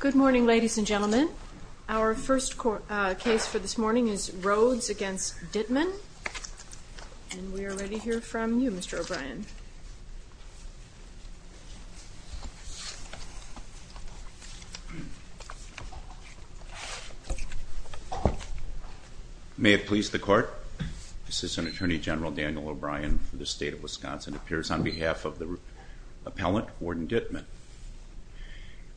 Good morning ladies and gentlemen. Our first case for this morning is Rhodes v. Dittmann and we are ready to hear from you Mr. O'Brien. May it please the court, Assistant Attorney General Daniel O'Brien for the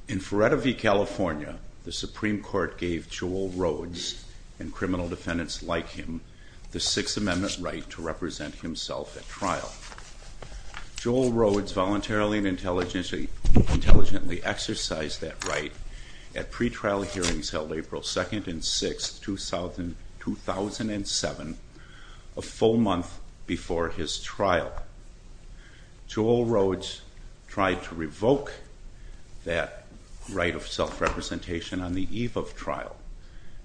In Feretta v. California, the Supreme Court gave Joel Rhodes and criminal defendants like him the Sixth Amendment right to represent himself at trial. Joel Rhodes voluntarily and intelligently exercised that right at pre-trial hearings held April 2nd and 6th, 2007, a full month before his trial. Joel Rhodes tried to revoke that right of self-representation on the eve of trial.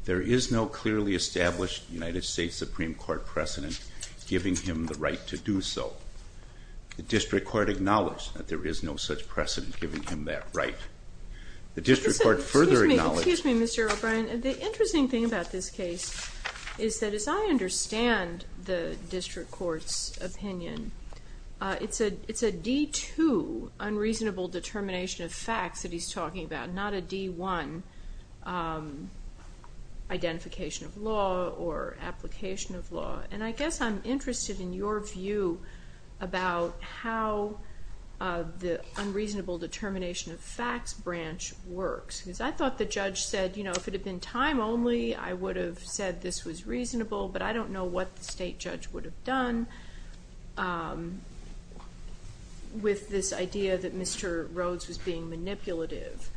There is no clearly established United States Supreme Court precedent giving him the right to do so. The district court acknowledged that there is no such precedent giving him that right. The district court further acknowledged Excuse me Mr. O'Brien, the interesting thing about this case is that as I understand the court's opinion, it's a D2 unreasonable determination of facts that he's talking about, not a D1 identification of law or application of law and I guess I'm interested in your view about how the unreasonable determination of facts branch works because I thought the judge said if it had been time only I would have said this was reasonable but I don't know what the state judge would have done with this idea that Mr. Rhodes was being manipulative.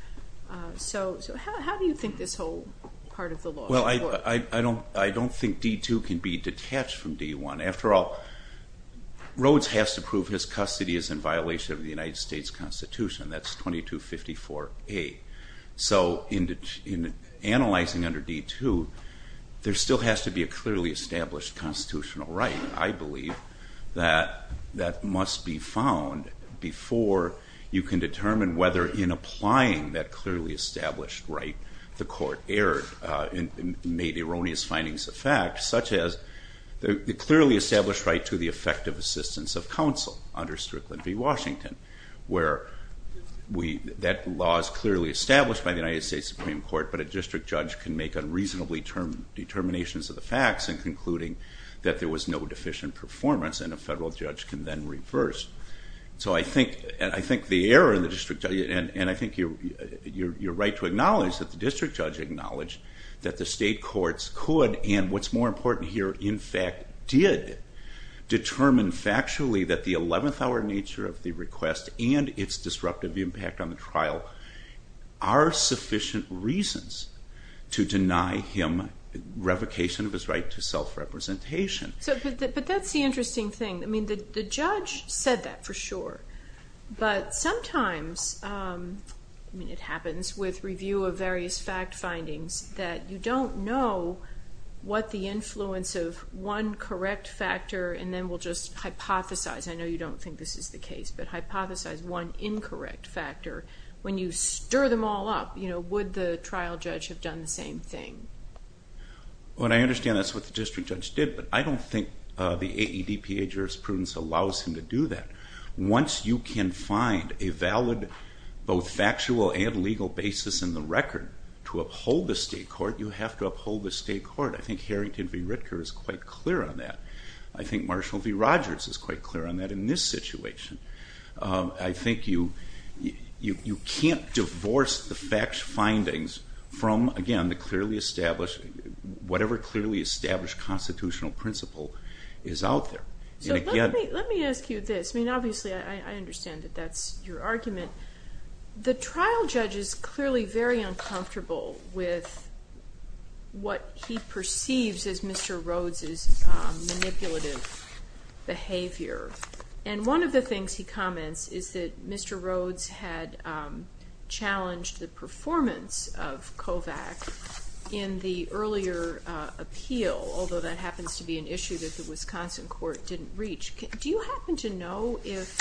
So how do you think this whole part of the law works? Well I don't think D2 can be detached from D1. After all, Rhodes has to prove his custody is in violation of the United States Constitution, that's 2254A. So in analyzing under D2, there still has to be a clearly established constitutional right. I believe that that must be found before you can determine whether in applying that clearly established right the court erred and made erroneous findings of fact such as the clearly established right to the effective assistance of counsel under Strickland v. Washington where that law is clearly established by the United States Supreme Court but a district judge can make unreasonably determined determinations of the facts and concluding that there was no deficient performance and a federal judge can then reverse. So I think the error in the district, and I think you're right to acknowledge that the district judge acknowledged that the state courts could and what's more important here in fact did determine factually that the 11th hour nature of the request and its disruptive impact on the trial are sufficient reasons to deny him revocation of his right to self-representation. But that's the interesting thing. I mean the judge said that for sure but sometimes, I mean it happens with review of various fact findings, that you don't know what the influence of one correct factor and then we'll just hypothesize. I know you don't think this is the case but hypothesize one incorrect factor. When you stir them all up, would the trial judge have done the same thing? Well I understand that's what the district judge did but I don't think the AEDPA jurisprudence allows him to do that. Once you can find a valid both factual and legal basis in the record to uphold the state court, you have to uphold the state court. I think Harrington v. Ritker is quite clear on that. I think Marshall v. Rogers is quite clear on that in this situation. I think you can't divorce the fact findings from again the clearly established whatever clearly established constitutional principle is out there. So let me ask you this. I mean obviously I understand that that's your argument. The trial judge is clearly very uncomfortable with what he perceives as Mr. Rhodes' manipulative behavior. And one of the things he comments is that Mr. Rhodes had challenged the performance of COVAC in the earlier appeal, although that happens to be an issue that the Wisconsin court didn't reach. Do you happen to know if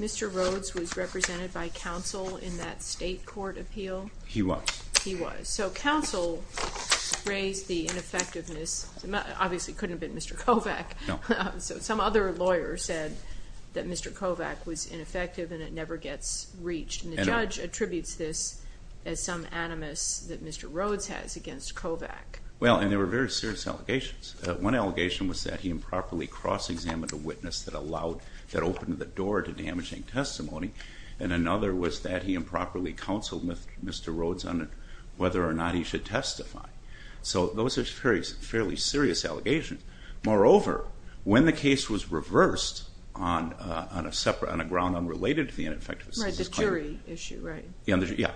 Mr. Rhodes was represented by counsel in that state court appeal? He was. He was. So counsel raised the ineffectiveness. Obviously it couldn't have been Mr. COVAC. No. So some other lawyer said that Mr. COVAC was ineffective and it never gets reached. And the judge attributes this as some animus that Mr. Rhodes has against COVAC. Well, and there were very serious allegations. One allegation was that he improperly cross-examined a witness that opened the door to damaging testimony. And another was that he improperly counseled Mr. Rhodes on whether or not he should testify. So those are fairly serious allegations. Moreover, when the case was reversed on a separate, on a ground unrelated to the ineffectiveness. Right, the jury issue, right. Yeah.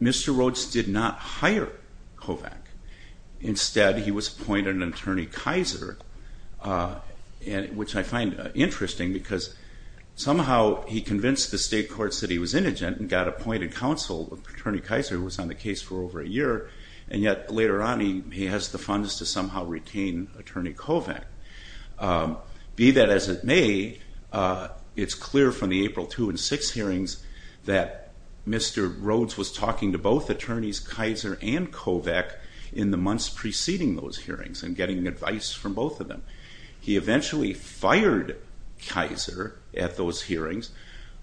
Mr. Rhodes did not hire COVAC. Instead he was appointed an attorney Kaiser, which I find interesting because somehow he convinced the state courts that he was indigent and got appointed counsel of Attorney Kaiser who was on the case for over a year. And yet later on he has the funds to somehow retain Attorney COVAC. Be that as it may, it's clear from the April 2 and 6 hearings that Mr. Rhodes was talking to both attorneys Kaiser and COVAC in the months preceding those hearings and getting advice from both of them. He eventually fired Kaiser at those hearings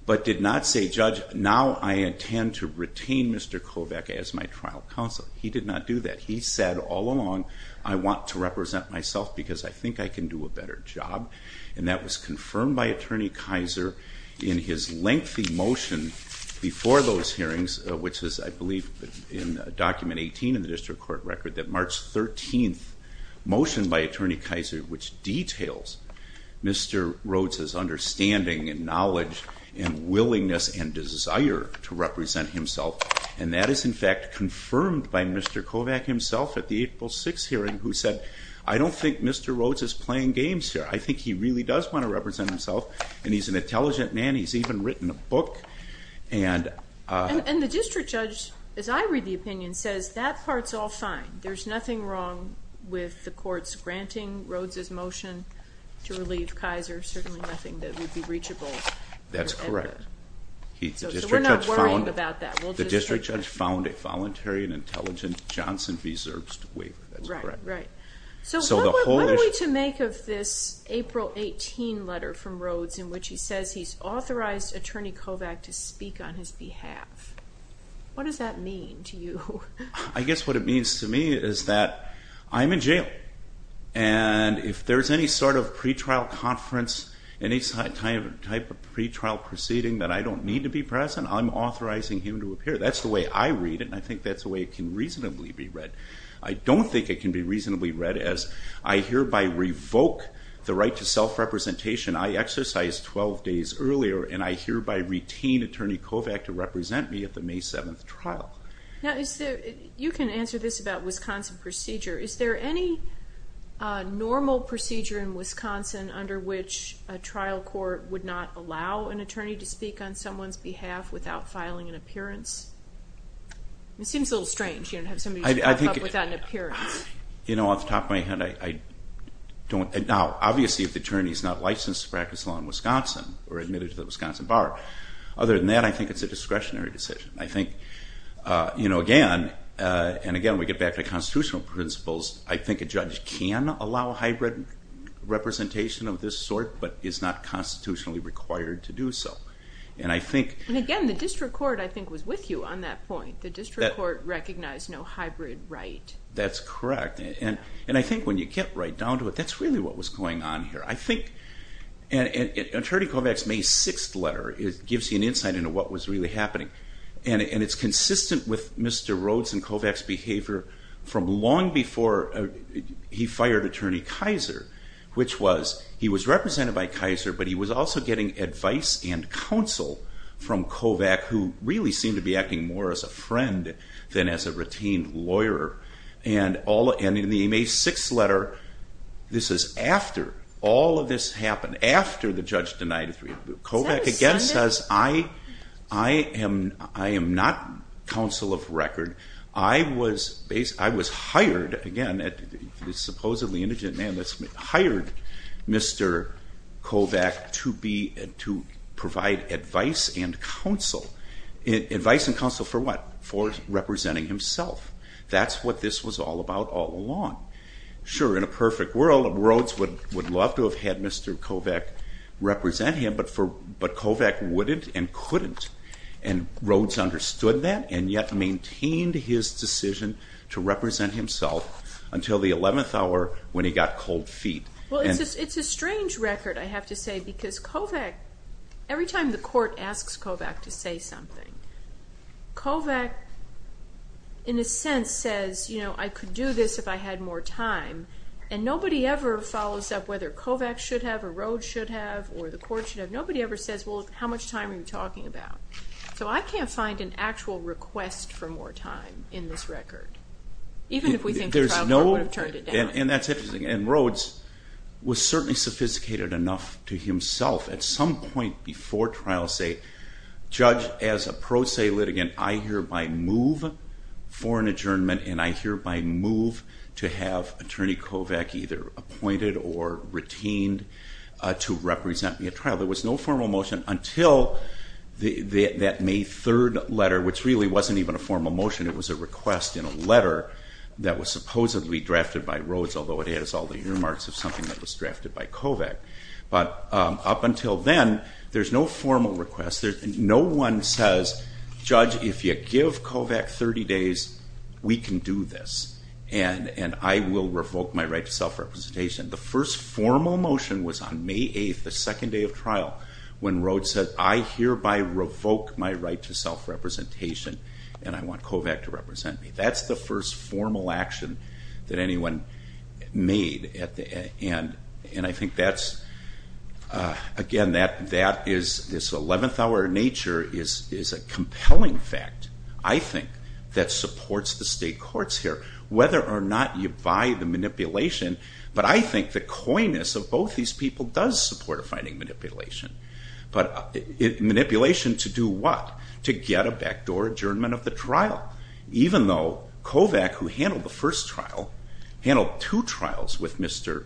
but did not say, Judge, now I intend to retain Mr. COVAC as my trial counsel. He did not do that. He said all along, I want to represent myself because I think I can do a better job. And that was confirmed by Attorney Kaiser in his lengthy motion before those hearings, which is, I believe, in document 18 in the district court record, that March 13 motion by Attorney Kaiser which details Mr. Rhodes' understanding and knowledge and willingness and desire to represent himself. And that is in fact confirmed by Mr. COVAC himself at the April 6 hearing who said, I don't think Mr. Rhodes is playing games here. I think he really does want to represent himself and he's an intelligent man. He's even written a book. And the district judge, as I read the opinion, says that part's all fine. There's nothing wrong with the courts granting Rhodes' motion to relieve Kaiser, certainly nothing that would be reachable. That's correct. So we're not worrying about that. The district judge found a voluntary and intelligent Johnson v. Zerbst waiver. That's correct. Right, right. So what are we to make of this April 18 letter from Rhodes in which he says he's authorized Attorney COVAC to speak on his behalf? What does that mean to you? I guess what it means to me is that I'm in jail and if there's any sort of pretrial conference, any type of pretrial proceeding that I don't need to be present, I'm authorizing him to appear. That's the way I read it and I think that's the way it can reasonably be read. I don't think it can be reasonably read as I hereby revoke the right to self-representation I exercised 12 days earlier and I hereby retain Attorney COVAC to represent me at the May 7th trial. You can answer this about Wisconsin procedure. Is there any normal procedure in Wisconsin under which a trial court would not allow an attorney to speak on someone's behalf without filing an appearance? It seems a little strange to have somebody come up without an appearance. You know, off the top of my head, I don't. Now, obviously, if the attorney is not licensed to practice law in Wisconsin or admitted to the Wisconsin bar, other than that, I think it's a discretionary decision. I think, you know, again, and again we get back to constitutional principles, I think a judge can allow hybrid representation of this sort but is not constitutionally required to do so. And I think... And again, the district court, I think, was with you on that point. The district court recognized no hybrid right. That's correct. And I think when you get right down to it, that's really what was going on here. I think Attorney COVAC's May 6th letter gives you an insight into what was really happening. And it's consistent with Mr. Rhodes and COVAC's behavior from long before he fired Attorney Kaiser, which was he was represented by Kaiser but he was also getting advice and counsel from COVAC who really seemed to be acting more as a friend than as a retained lawyer. And in the May 6th letter, this is after all of this happened, after the judge denied it. COVAC again says, I am not counsel of record. I was hired, again, a supposedly indigent man, hired Mr. COVAC to provide advice and counsel. Advice and counsel for what? For representing himself. That's what this was all about all along. Sure, in a perfect world, Rhodes would love to have had Mr. COVAC represent him, but COVAC wouldn't and couldn't. And Rhodes understood that and yet maintained his decision to represent himself until the 11th hour when he got cold feet. Well, it's a strange record, I have to say, because COVAC, every time the court asks COVAC to say something, COVAC in a sense says, you know, I could do this if I had more time. And nobody ever follows up whether COVAC should have or Rhodes should have or the court should have. Nobody ever says, well, how much time are you talking about? So I can't find an actual request for more time in this record, even if we think the trial court would have turned it down. And that's interesting. And Rhodes was certainly sophisticated enough to himself at some point before trials say, Judge, as a pro se litigant, I hereby move for an adjournment and I hereby move to have Attorney COVAC either appointed or retained to represent me at trial. There was no formal motion until that May 3rd letter, which really wasn't even a formal motion. It was a request in a letter that was supposedly drafted by Rhodes, although it has all the earmarks of something that was drafted by COVAC. But up until then, there's no formal request. No one says, Judge, if you give COVAC 30 days, we can do this and I will revoke my right to self-representation. The first formal motion was on May 8th, the second day of trial, when Rhodes said, I hereby revoke my right to self-representation and I want COVAC to represent me. That's the first formal action that anyone made. And I think that's, again, this 11th hour nature is a compelling fact, I think, that supports the state courts here, whether or not you buy the manipulation. But I think the coyness of both these people does support a finding manipulation. Manipulation to do what? To get a backdoor adjournment of the trial, even though COVAC, who handled the first trial, handled two trials with Mr.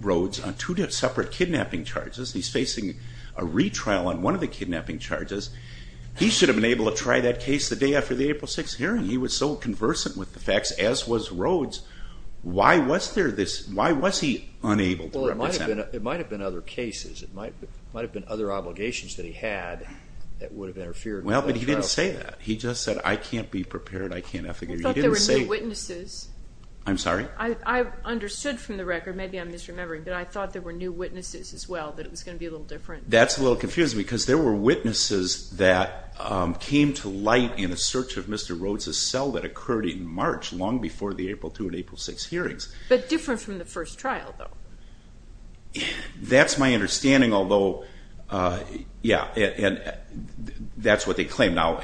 Rhodes on two separate kidnapping charges. He's facing a retrial on one of the kidnapping charges. He should have been able to try that case the day after the April 6th hearing. He was so conversant with the facts, as was Rhodes. Why was he unable to represent? Well, it might have been other cases. It might have been other obligations that he had that would have interfered with that trial. Well, but he didn't say that. He just said, I can't be prepared. I thought there were new witnesses. I'm sorry? I understood from the record, maybe I'm misremembering, but I thought there were new witnesses as well, that it was going to be a little different. That's a little confusing, because there were witnesses that came to light in a search of Mr. Rhodes' cell that occurred in March, long before the April 2nd and April 6th hearings. But different from the first trial, though. That's my understanding, although, yeah, that's what they claim. Now,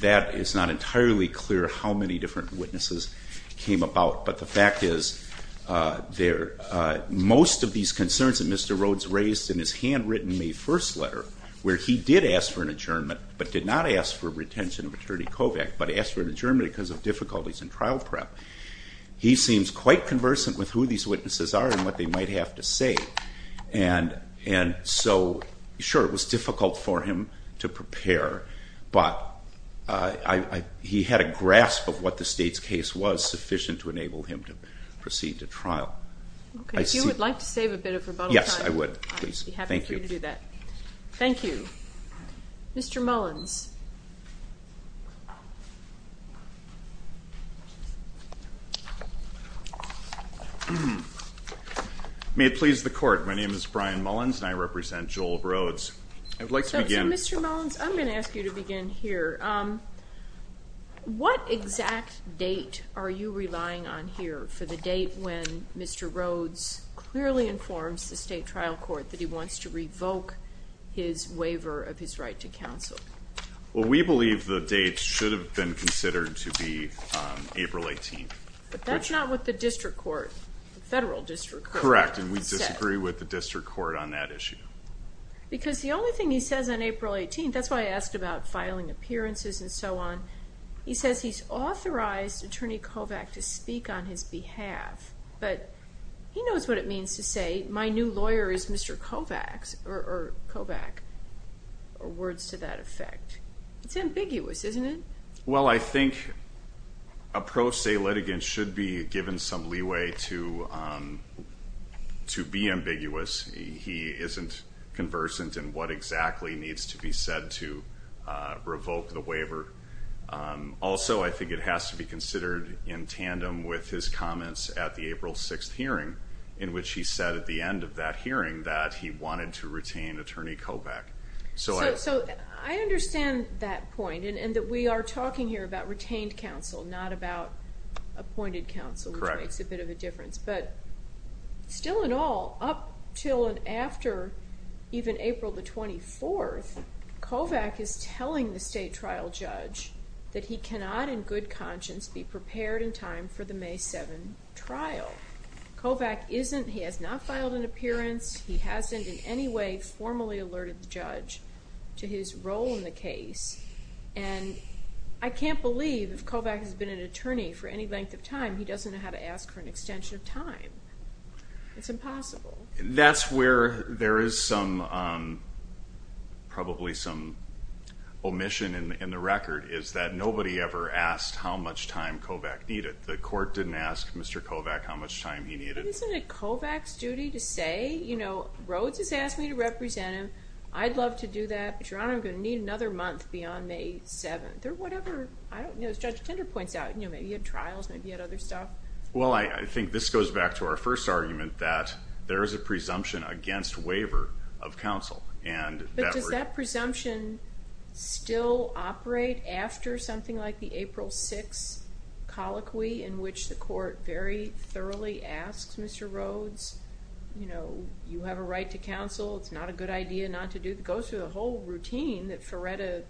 that is not entirely clear how many different witnesses came about. But the fact is, most of these concerns that Mr. Rhodes raised in his handwritten May 1st letter, where he did ask for an adjournment, but did not ask for retention of Attorney Kovach, but asked for an adjournment because of difficulties in trial prep, he seems quite conversant with who these witnesses are and what they might have to say. And so, sure, it was difficult for him to prepare, but he had a grasp of what the state's case was sufficient to enable him to proceed to trial. Okay, if you would like to save a bit of rebuttal time. Yes, I would, please. I'd be happy for you to do that. Thank you. Thank you. Mr. Mullins. May it please the Court. My name is Brian Mullins, and I represent Joel Rhodes. I would like to begin. So, Mr. Mullins, I'm going to ask you to begin here. What exact date are you relying on here for the date when Mr. Rhodes clearly informs the state trial court that he wants to revoke his waiver of his right to counsel? Well, we believe the date should have been considered to be April 18th. But that's not what the district court, the federal district court, said. Correct, and we disagree with the district court on that issue. Because the only thing he says on April 18th, that's why I asked about filing appearances and so on, he says he's authorized Attorney Kovach to speak on his behalf, but he knows what it means to say, my new lawyer is Mr. Kovach, or words to that effect. It's ambiguous, isn't it? Well, I think a pro se litigant should be given some leeway to be ambiguous. He isn't conversant in what exactly needs to be said to revoke the waiver. Also, I think it has to be considered in tandem with his comments at the April 6th hearing, in which he said at the end of that hearing that he wanted to retain Attorney Kovach. So I understand that point, and that we are talking here about retained counsel, not about appointed counsel, which makes a bit of a difference. But still in all, up until and after even April 24th, Kovach is telling the state trial judge that he cannot in good conscience be prepared in time for the May 7th trial. Kovach isn't, he has not filed an appearance, he hasn't in any way formally alerted the judge to his role in the case, and I can't believe if Kovach has been an attorney for any length of time, he doesn't know how to ask for an extension of time. It's impossible. That's where there is some, probably some omission in the record, is that nobody ever asked how much time Kovach needed. The court didn't ask Mr. Kovach how much time he needed. Isn't it Kovach's duty to say, you know, Rhodes has asked me to represent him, I'd love to do that, but Your Honor, I'm going to need another month beyond May 7th. As Judge Tinder points out, maybe he had trials, maybe he had other stuff. Well, I think this goes back to our first argument that there is a presumption against waiver of counsel. But does that presumption still operate after something like the April 6th colloquy in which the court very thoroughly asks Mr. Rhodes, you know, you have a right to counsel, it's not a good idea not to do, it goes through the whole routine that Feretta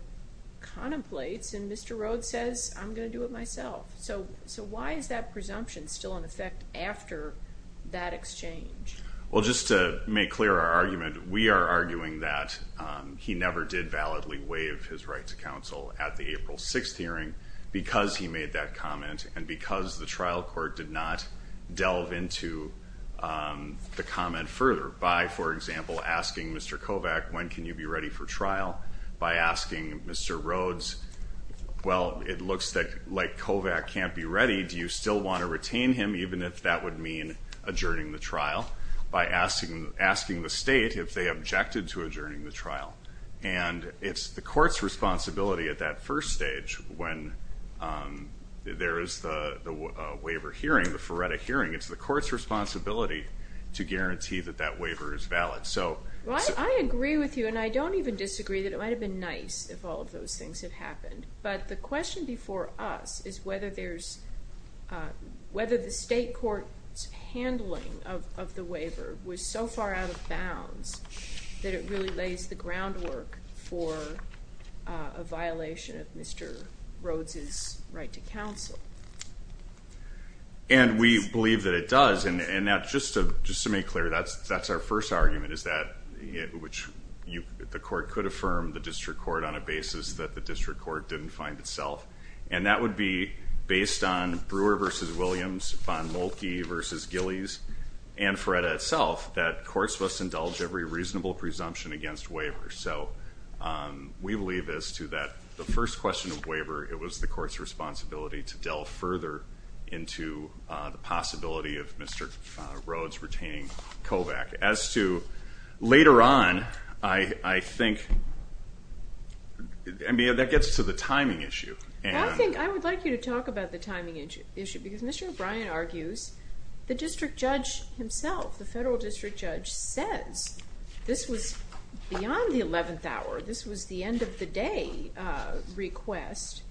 contemplates, and Mr. Rhodes says, I'm going to do it myself. So why is that presumption still in effect after that exchange? Well, just to make clear our argument, we are arguing that he never did validly waive his right to counsel at the April 6th hearing because he made that comment and because the trial court did not delve into the comment further by, for example, asking Mr. Kovach, when can you be ready for trial? By asking Mr. Rhodes, well, it looks like Kovach can't be ready, do you still want to retain him even if that would mean adjourning the trial? By asking the state if they objected to adjourning the trial. And it's the court's responsibility at that first stage when there is the waiver hearing, the Feretta hearing, it's the court's responsibility to guarantee that that waiver is valid. Well, I agree with you, and I don't even disagree that it might have been nice if all of those things had happened, but the question before us is whether the state court's handling of the waiver was so far out of bounds that it really lays the groundwork for a violation of Mr. Rhodes' right to counsel. And we believe that it does, and just to make clear, that's our first argument, is that the court could affirm the district court on a basis that the district court didn't find itself, and that would be based on Brewer v. Williams, Von Moltke v. Gillies, and Feretta itself, that courts must indulge every reasonable presumption against waiver. So we believe as to that the first question of waiver, it was the court's responsibility to delve further into the possibility of Mr. Rhodes retaining COVAC. As to later on, I think that gets to the timing issue. I think I would like you to talk about the timing issue because Mr. O'Brien argues the district judge himself, the federal district judge, says this was beyond the 11th hour. This was the end of the day request,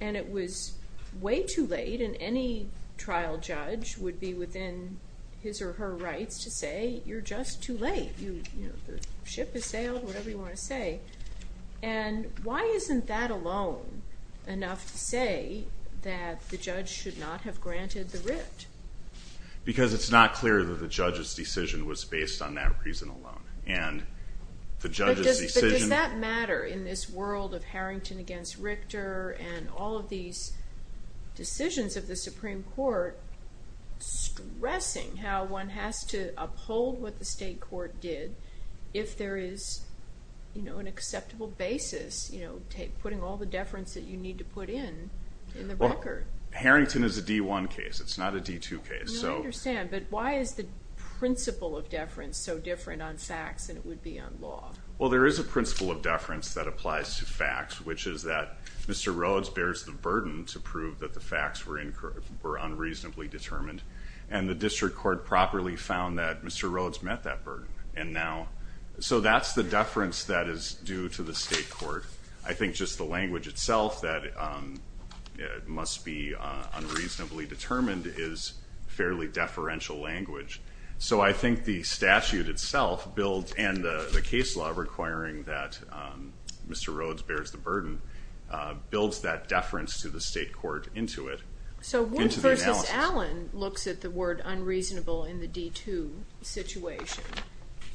and it was way too late, and any trial judge would be within his or her rights to say you're just too late. The ship has sailed, whatever you want to say. And why isn't that alone enough to say that the judge should not have granted the writ? Because it's not clear that the judge's decision was based on that reason alone. But does that matter in this world of Harrington v. Richter and all of these decisions of the Supreme Court stressing how one has to uphold what the state court did if there is an acceptable basis putting all the deference that you need to put in in the record? Harrington is a D1 case. It's not a D2 case. I understand, but why is the principle of deference so different on facts than it would be on law? Well, there is a principle of deference that applies to facts, which is that Mr. Rhodes bears the burden to prove that the facts were unreasonably determined, and the district court properly found that Mr. Rhodes met that burden. So that's the deference that is due to the state court. I think just the language itself that must be unreasonably determined is fairly deferential language. So I think the statute itself and the case law requiring that Mr. Rhodes bears the burden builds that deference to the state court into it, into the analysis. So Wood v. Allen looks at the word unreasonable in the D2 situation,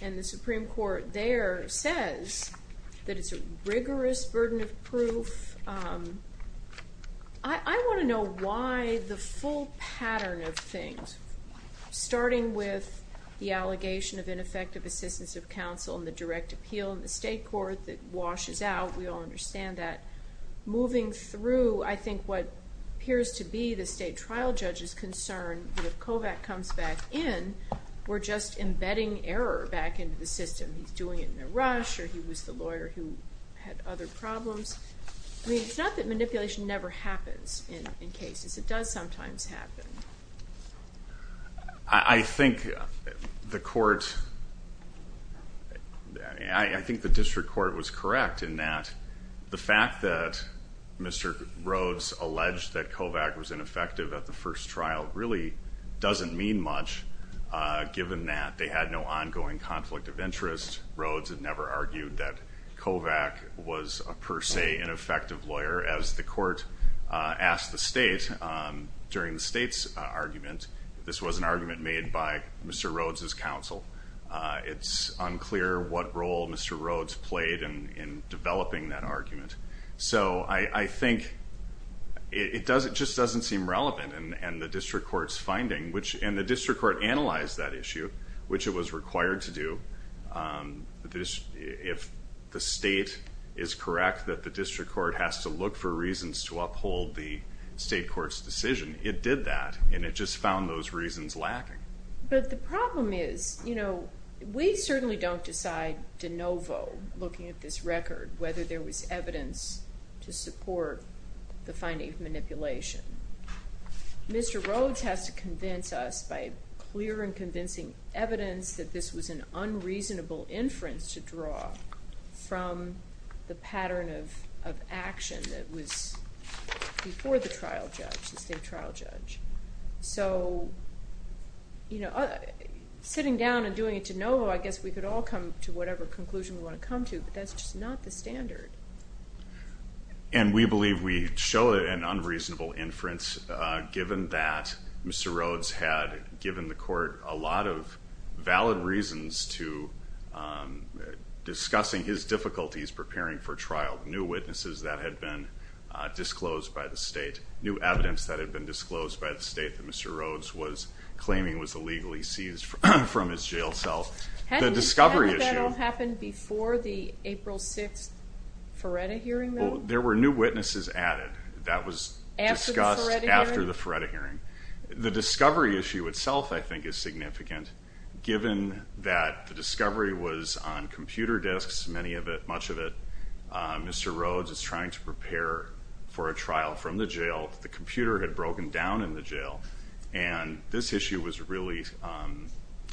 and the Supreme Court there says that it's a rigorous burden of proof. I want to know why the full pattern of things, starting with the allegation of ineffective assistance of counsel and the direct appeal in the state court that washes out, we all understand that, moving through I think what appears to be the state trial judge's concern that if Kovach comes back in, we're just embedding error back into the system. He's doing it in a rush, or he was the lawyer who had other problems. I mean, it's not that manipulation never happens in cases. It does sometimes happen. I think the court, I think the district court was correct in that the fact that Mr. Rhodes alleged that Kovach was ineffective at the first trial really doesn't mean much given that. They had no ongoing conflict of interest. Rhodes had never argued that Kovach was a per se ineffective lawyer. As the court asked the state during the state's argument, this was an argument made by Mr. Rhodes' counsel. It's unclear what role Mr. Rhodes played in developing that argument. So I think it just doesn't seem relevant, and the district court's finding, and the district court analyzed that issue, which it was required to do. If the state is correct that the district court has to look for reasons to uphold the state court's decision, it did that, and it just found those reasons lacking. But the problem is we certainly don't decide de novo looking at this record whether there was evidence to support the finding of manipulation. Mr. Rhodes has to convince us by clear and convincing evidence that this was an unreasonable inference to draw from the pattern of action that was before the trial judge, the state trial judge. So sitting down and doing it de novo, I guess we could all come to whatever conclusion we want to come to, but that's just not the standard. And we believe we show an unreasonable inference given that Mr. Rhodes had given the court a lot of valid reasons to discussing his difficulties preparing for trial, new witnesses that had been disclosed by the state, new evidence that had been disclosed by the state that Mr. Rhodes was claiming was illegally seized from his jail cell. The discovery issue... Hadn't that all happened before the April 6th Feretta hearing, though? Well, there were new witnesses added. That was discussed after the Feretta hearing. The discovery issue itself, I think, is significant given that the discovery was on computer disks, many of it, much of it. Mr. Rhodes is trying to prepare for a trial from the jail. The computer had broken down in the jail, and this issue was really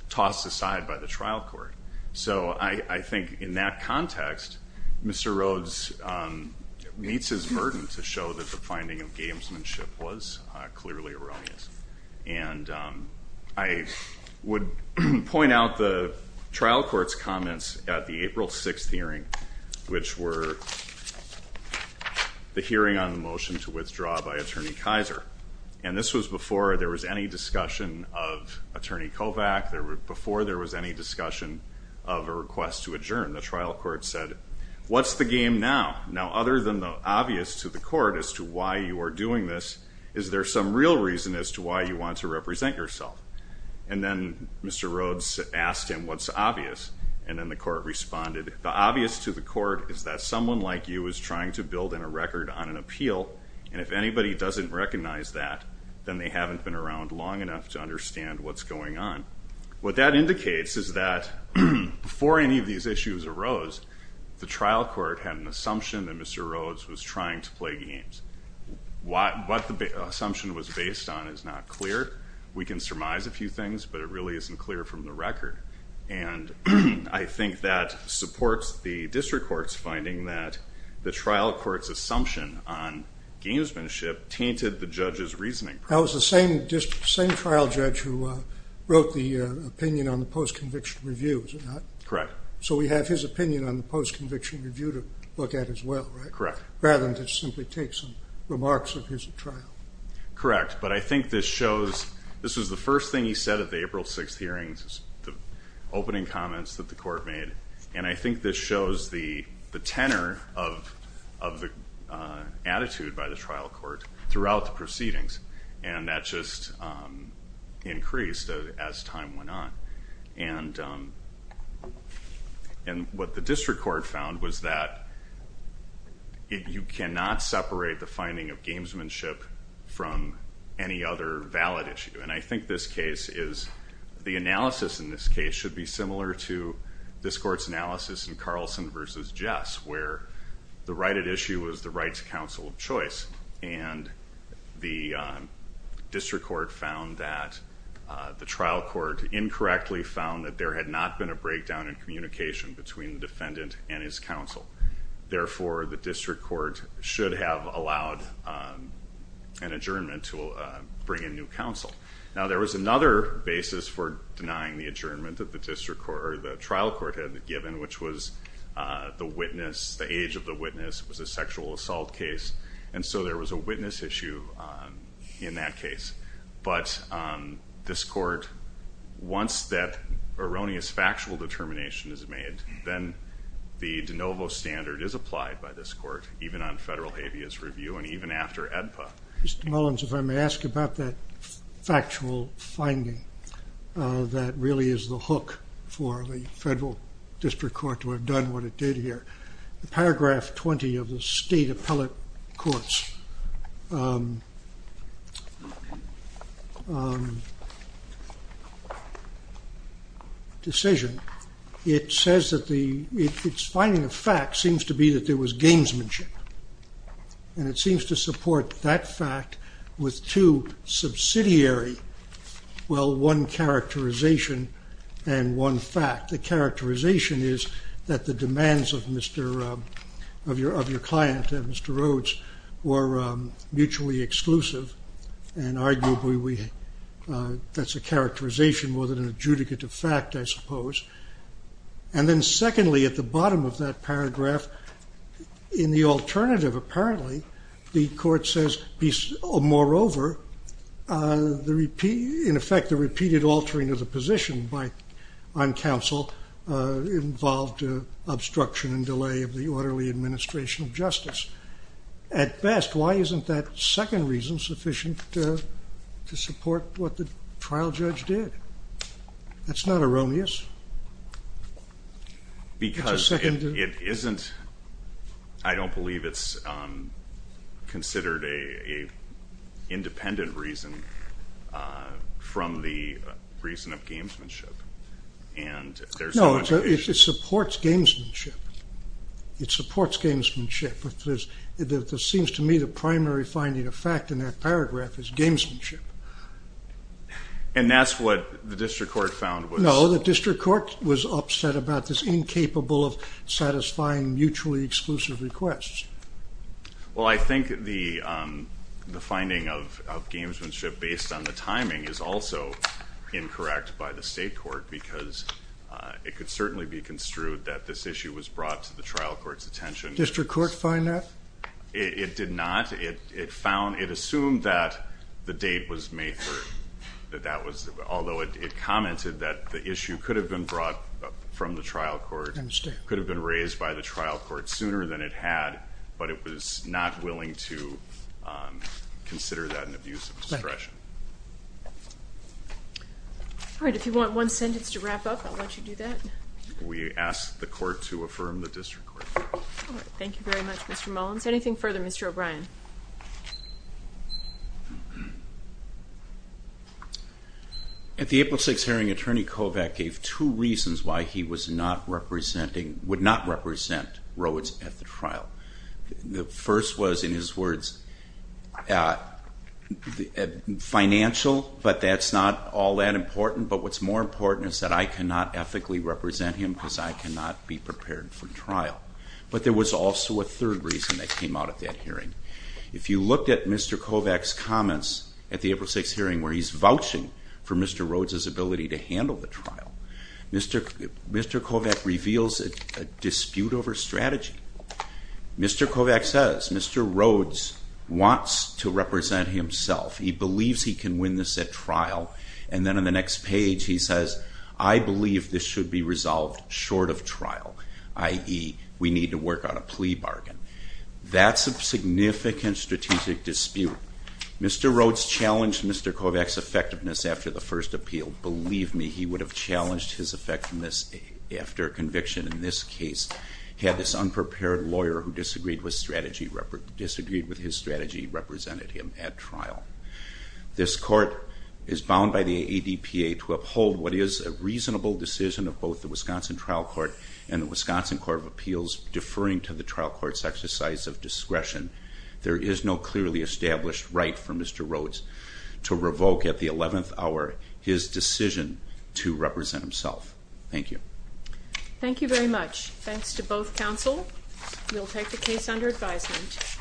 tossed aside by the trial court. So I think in that context, Mr. Rhodes meets his burden to show that the finding of gamesmanship was clearly erroneous. And I would point out the trial court's comments at the April 6th hearing, which were the hearing on the motion to withdraw by Attorney Kaiser. And this was before there was any discussion of Attorney Kovach, before there was any discussion of a request to adjourn. The trial court said, what's the game now? Now, other than the obvious to the court as to why you are doing this, is there some real reason as to why you want to represent yourself? And then Mr. Rhodes asked him, what's obvious? And then the court responded, the obvious to the court is that someone like you is trying to build in a record on an appeal, and if anybody doesn't recognize that, then they haven't been around long enough to understand what's going on. What that indicates is that before any of these issues arose, the trial court had an assumption that Mr. Rhodes was trying to play games. What the assumption was based on is not clear. We can surmise a few things, but it really isn't clear from the record. And I think that supports the district court's finding that the trial court's assumption on gamesmanship tainted the judge's reasoning. That was the same trial judge who wrote the opinion on the post-conviction review, was it not? Correct. So we have his opinion on the post-conviction review to look at as well, right? Correct. Rather than just simply take some remarks of his trial. Correct. But I think this shows, this was the first thing he said at the April 6th hearings, the opening comments that the court made, and I think this shows the tenor of the attitude by the trial court throughout the proceedings, and that just increased as time went on. And what the district court found was that you cannot separate the finding of gamesmanship from any other valid issue. And I think this case is, the analysis in this case should be similar to this court's analysis in Carlson v. Jess, where the right at issue was the rights counsel of choice. And the district court found that the trial court incorrectly found that there had not been a breakdown in communication between the defendant and his counsel. Therefore, the district court should have allowed an adjournment to bring in new counsel. Now, there was another basis for denying the adjournment that the trial court had given, which was the age of the witness was a sexual assault case. And so there was a witness issue in that case. But this court, once that erroneous factual determination is made, then the de novo standard is applied by this court, even on federal habeas review and even after AEDPA. Mr. Mullins, if I may ask about that factual finding that really is the hook for the federal district court to have done what it did here. The paragraph 20 of the state appellate court's decision, it says that the finding of fact seems to be that there was gamesmanship. And it seems to support that fact with two subsidiary, well, one characterization and one fact. The characterization is that the demands of your client, Mr. Rhodes, were mutually exclusive. And arguably, that's a characterization more than an adjudicative fact, I suppose. And then secondly, at the bottom of that paragraph, in the alternative, apparently, the court says, moreover, in effect, the repeated altering of the position on counsel involved obstruction and delay of the orderly administration of justice. At best, why isn't that second reason sufficient to support what the trial judge did? That's not erroneous. Because it isn't, I don't believe it's considered an independent reason from the reason of gamesmanship. No, it supports gamesmanship. It supports gamesmanship. It seems to me the primary finding of fact in that paragraph is gamesmanship. And that's what the district court found was? No, the district court was upset about this incapable of satisfying mutually exclusive requests. Well, I think the finding of gamesmanship based on the timing is also incorrect by the state court because it could certainly be construed that this issue was brought to the trial court's attention. Did the district court find that? It did not. It assumed that the date was May 3rd. Although it commented that the issue could have been brought from the trial court, could have been raised by the trial court sooner than it had, but it was not willing to consider that an abuse of discretion. All right, if you want one sentence to wrap up, I'll let you do that. We ask the court to affirm the district court. All right, thank you very much, Mr. Mullins. Anything further, Mr. O'Brien? The April 6th hearing, Attorney Kovach gave two reasons why he was not representing, would not represent Rhoades at the trial. The first was, in his words, financial, but that's not all that important. But what's more important is that I cannot ethically represent him because I cannot be prepared for trial. But there was also a third reason that came out of that hearing. If you looked at Mr. Kovach's comments at the April 6th hearing where he's vouching for Mr. Rhoades' ability to handle the trial, Mr. Kovach reveals a dispute over strategy. Mr. Kovach says Mr. Rhoades wants to represent himself. He believes he can win this at trial. And then on the next page he says, I believe this should be resolved short of trial, i.e., we need to work on a plea bargain. That's a significant strategic dispute. Mr. Rhoades challenged Mr. Kovach's effectiveness after the first appeal. Believe me, he would have challenged his effectiveness after conviction in this case. He had this unprepared lawyer who disagreed with his strategy, represented him at trial. This court is bound by the ADPA to uphold what is a reasonable decision of both the Wisconsin Trial Court and the Wisconsin Court of Appeals deferring to the trial court's exercise of discretion. There is no clearly established right for Mr. Rhoades to revoke at the 11th hour his decision to represent himself. Thank you. Thank you very much. Thanks to both counsel. We'll take the case under advisement.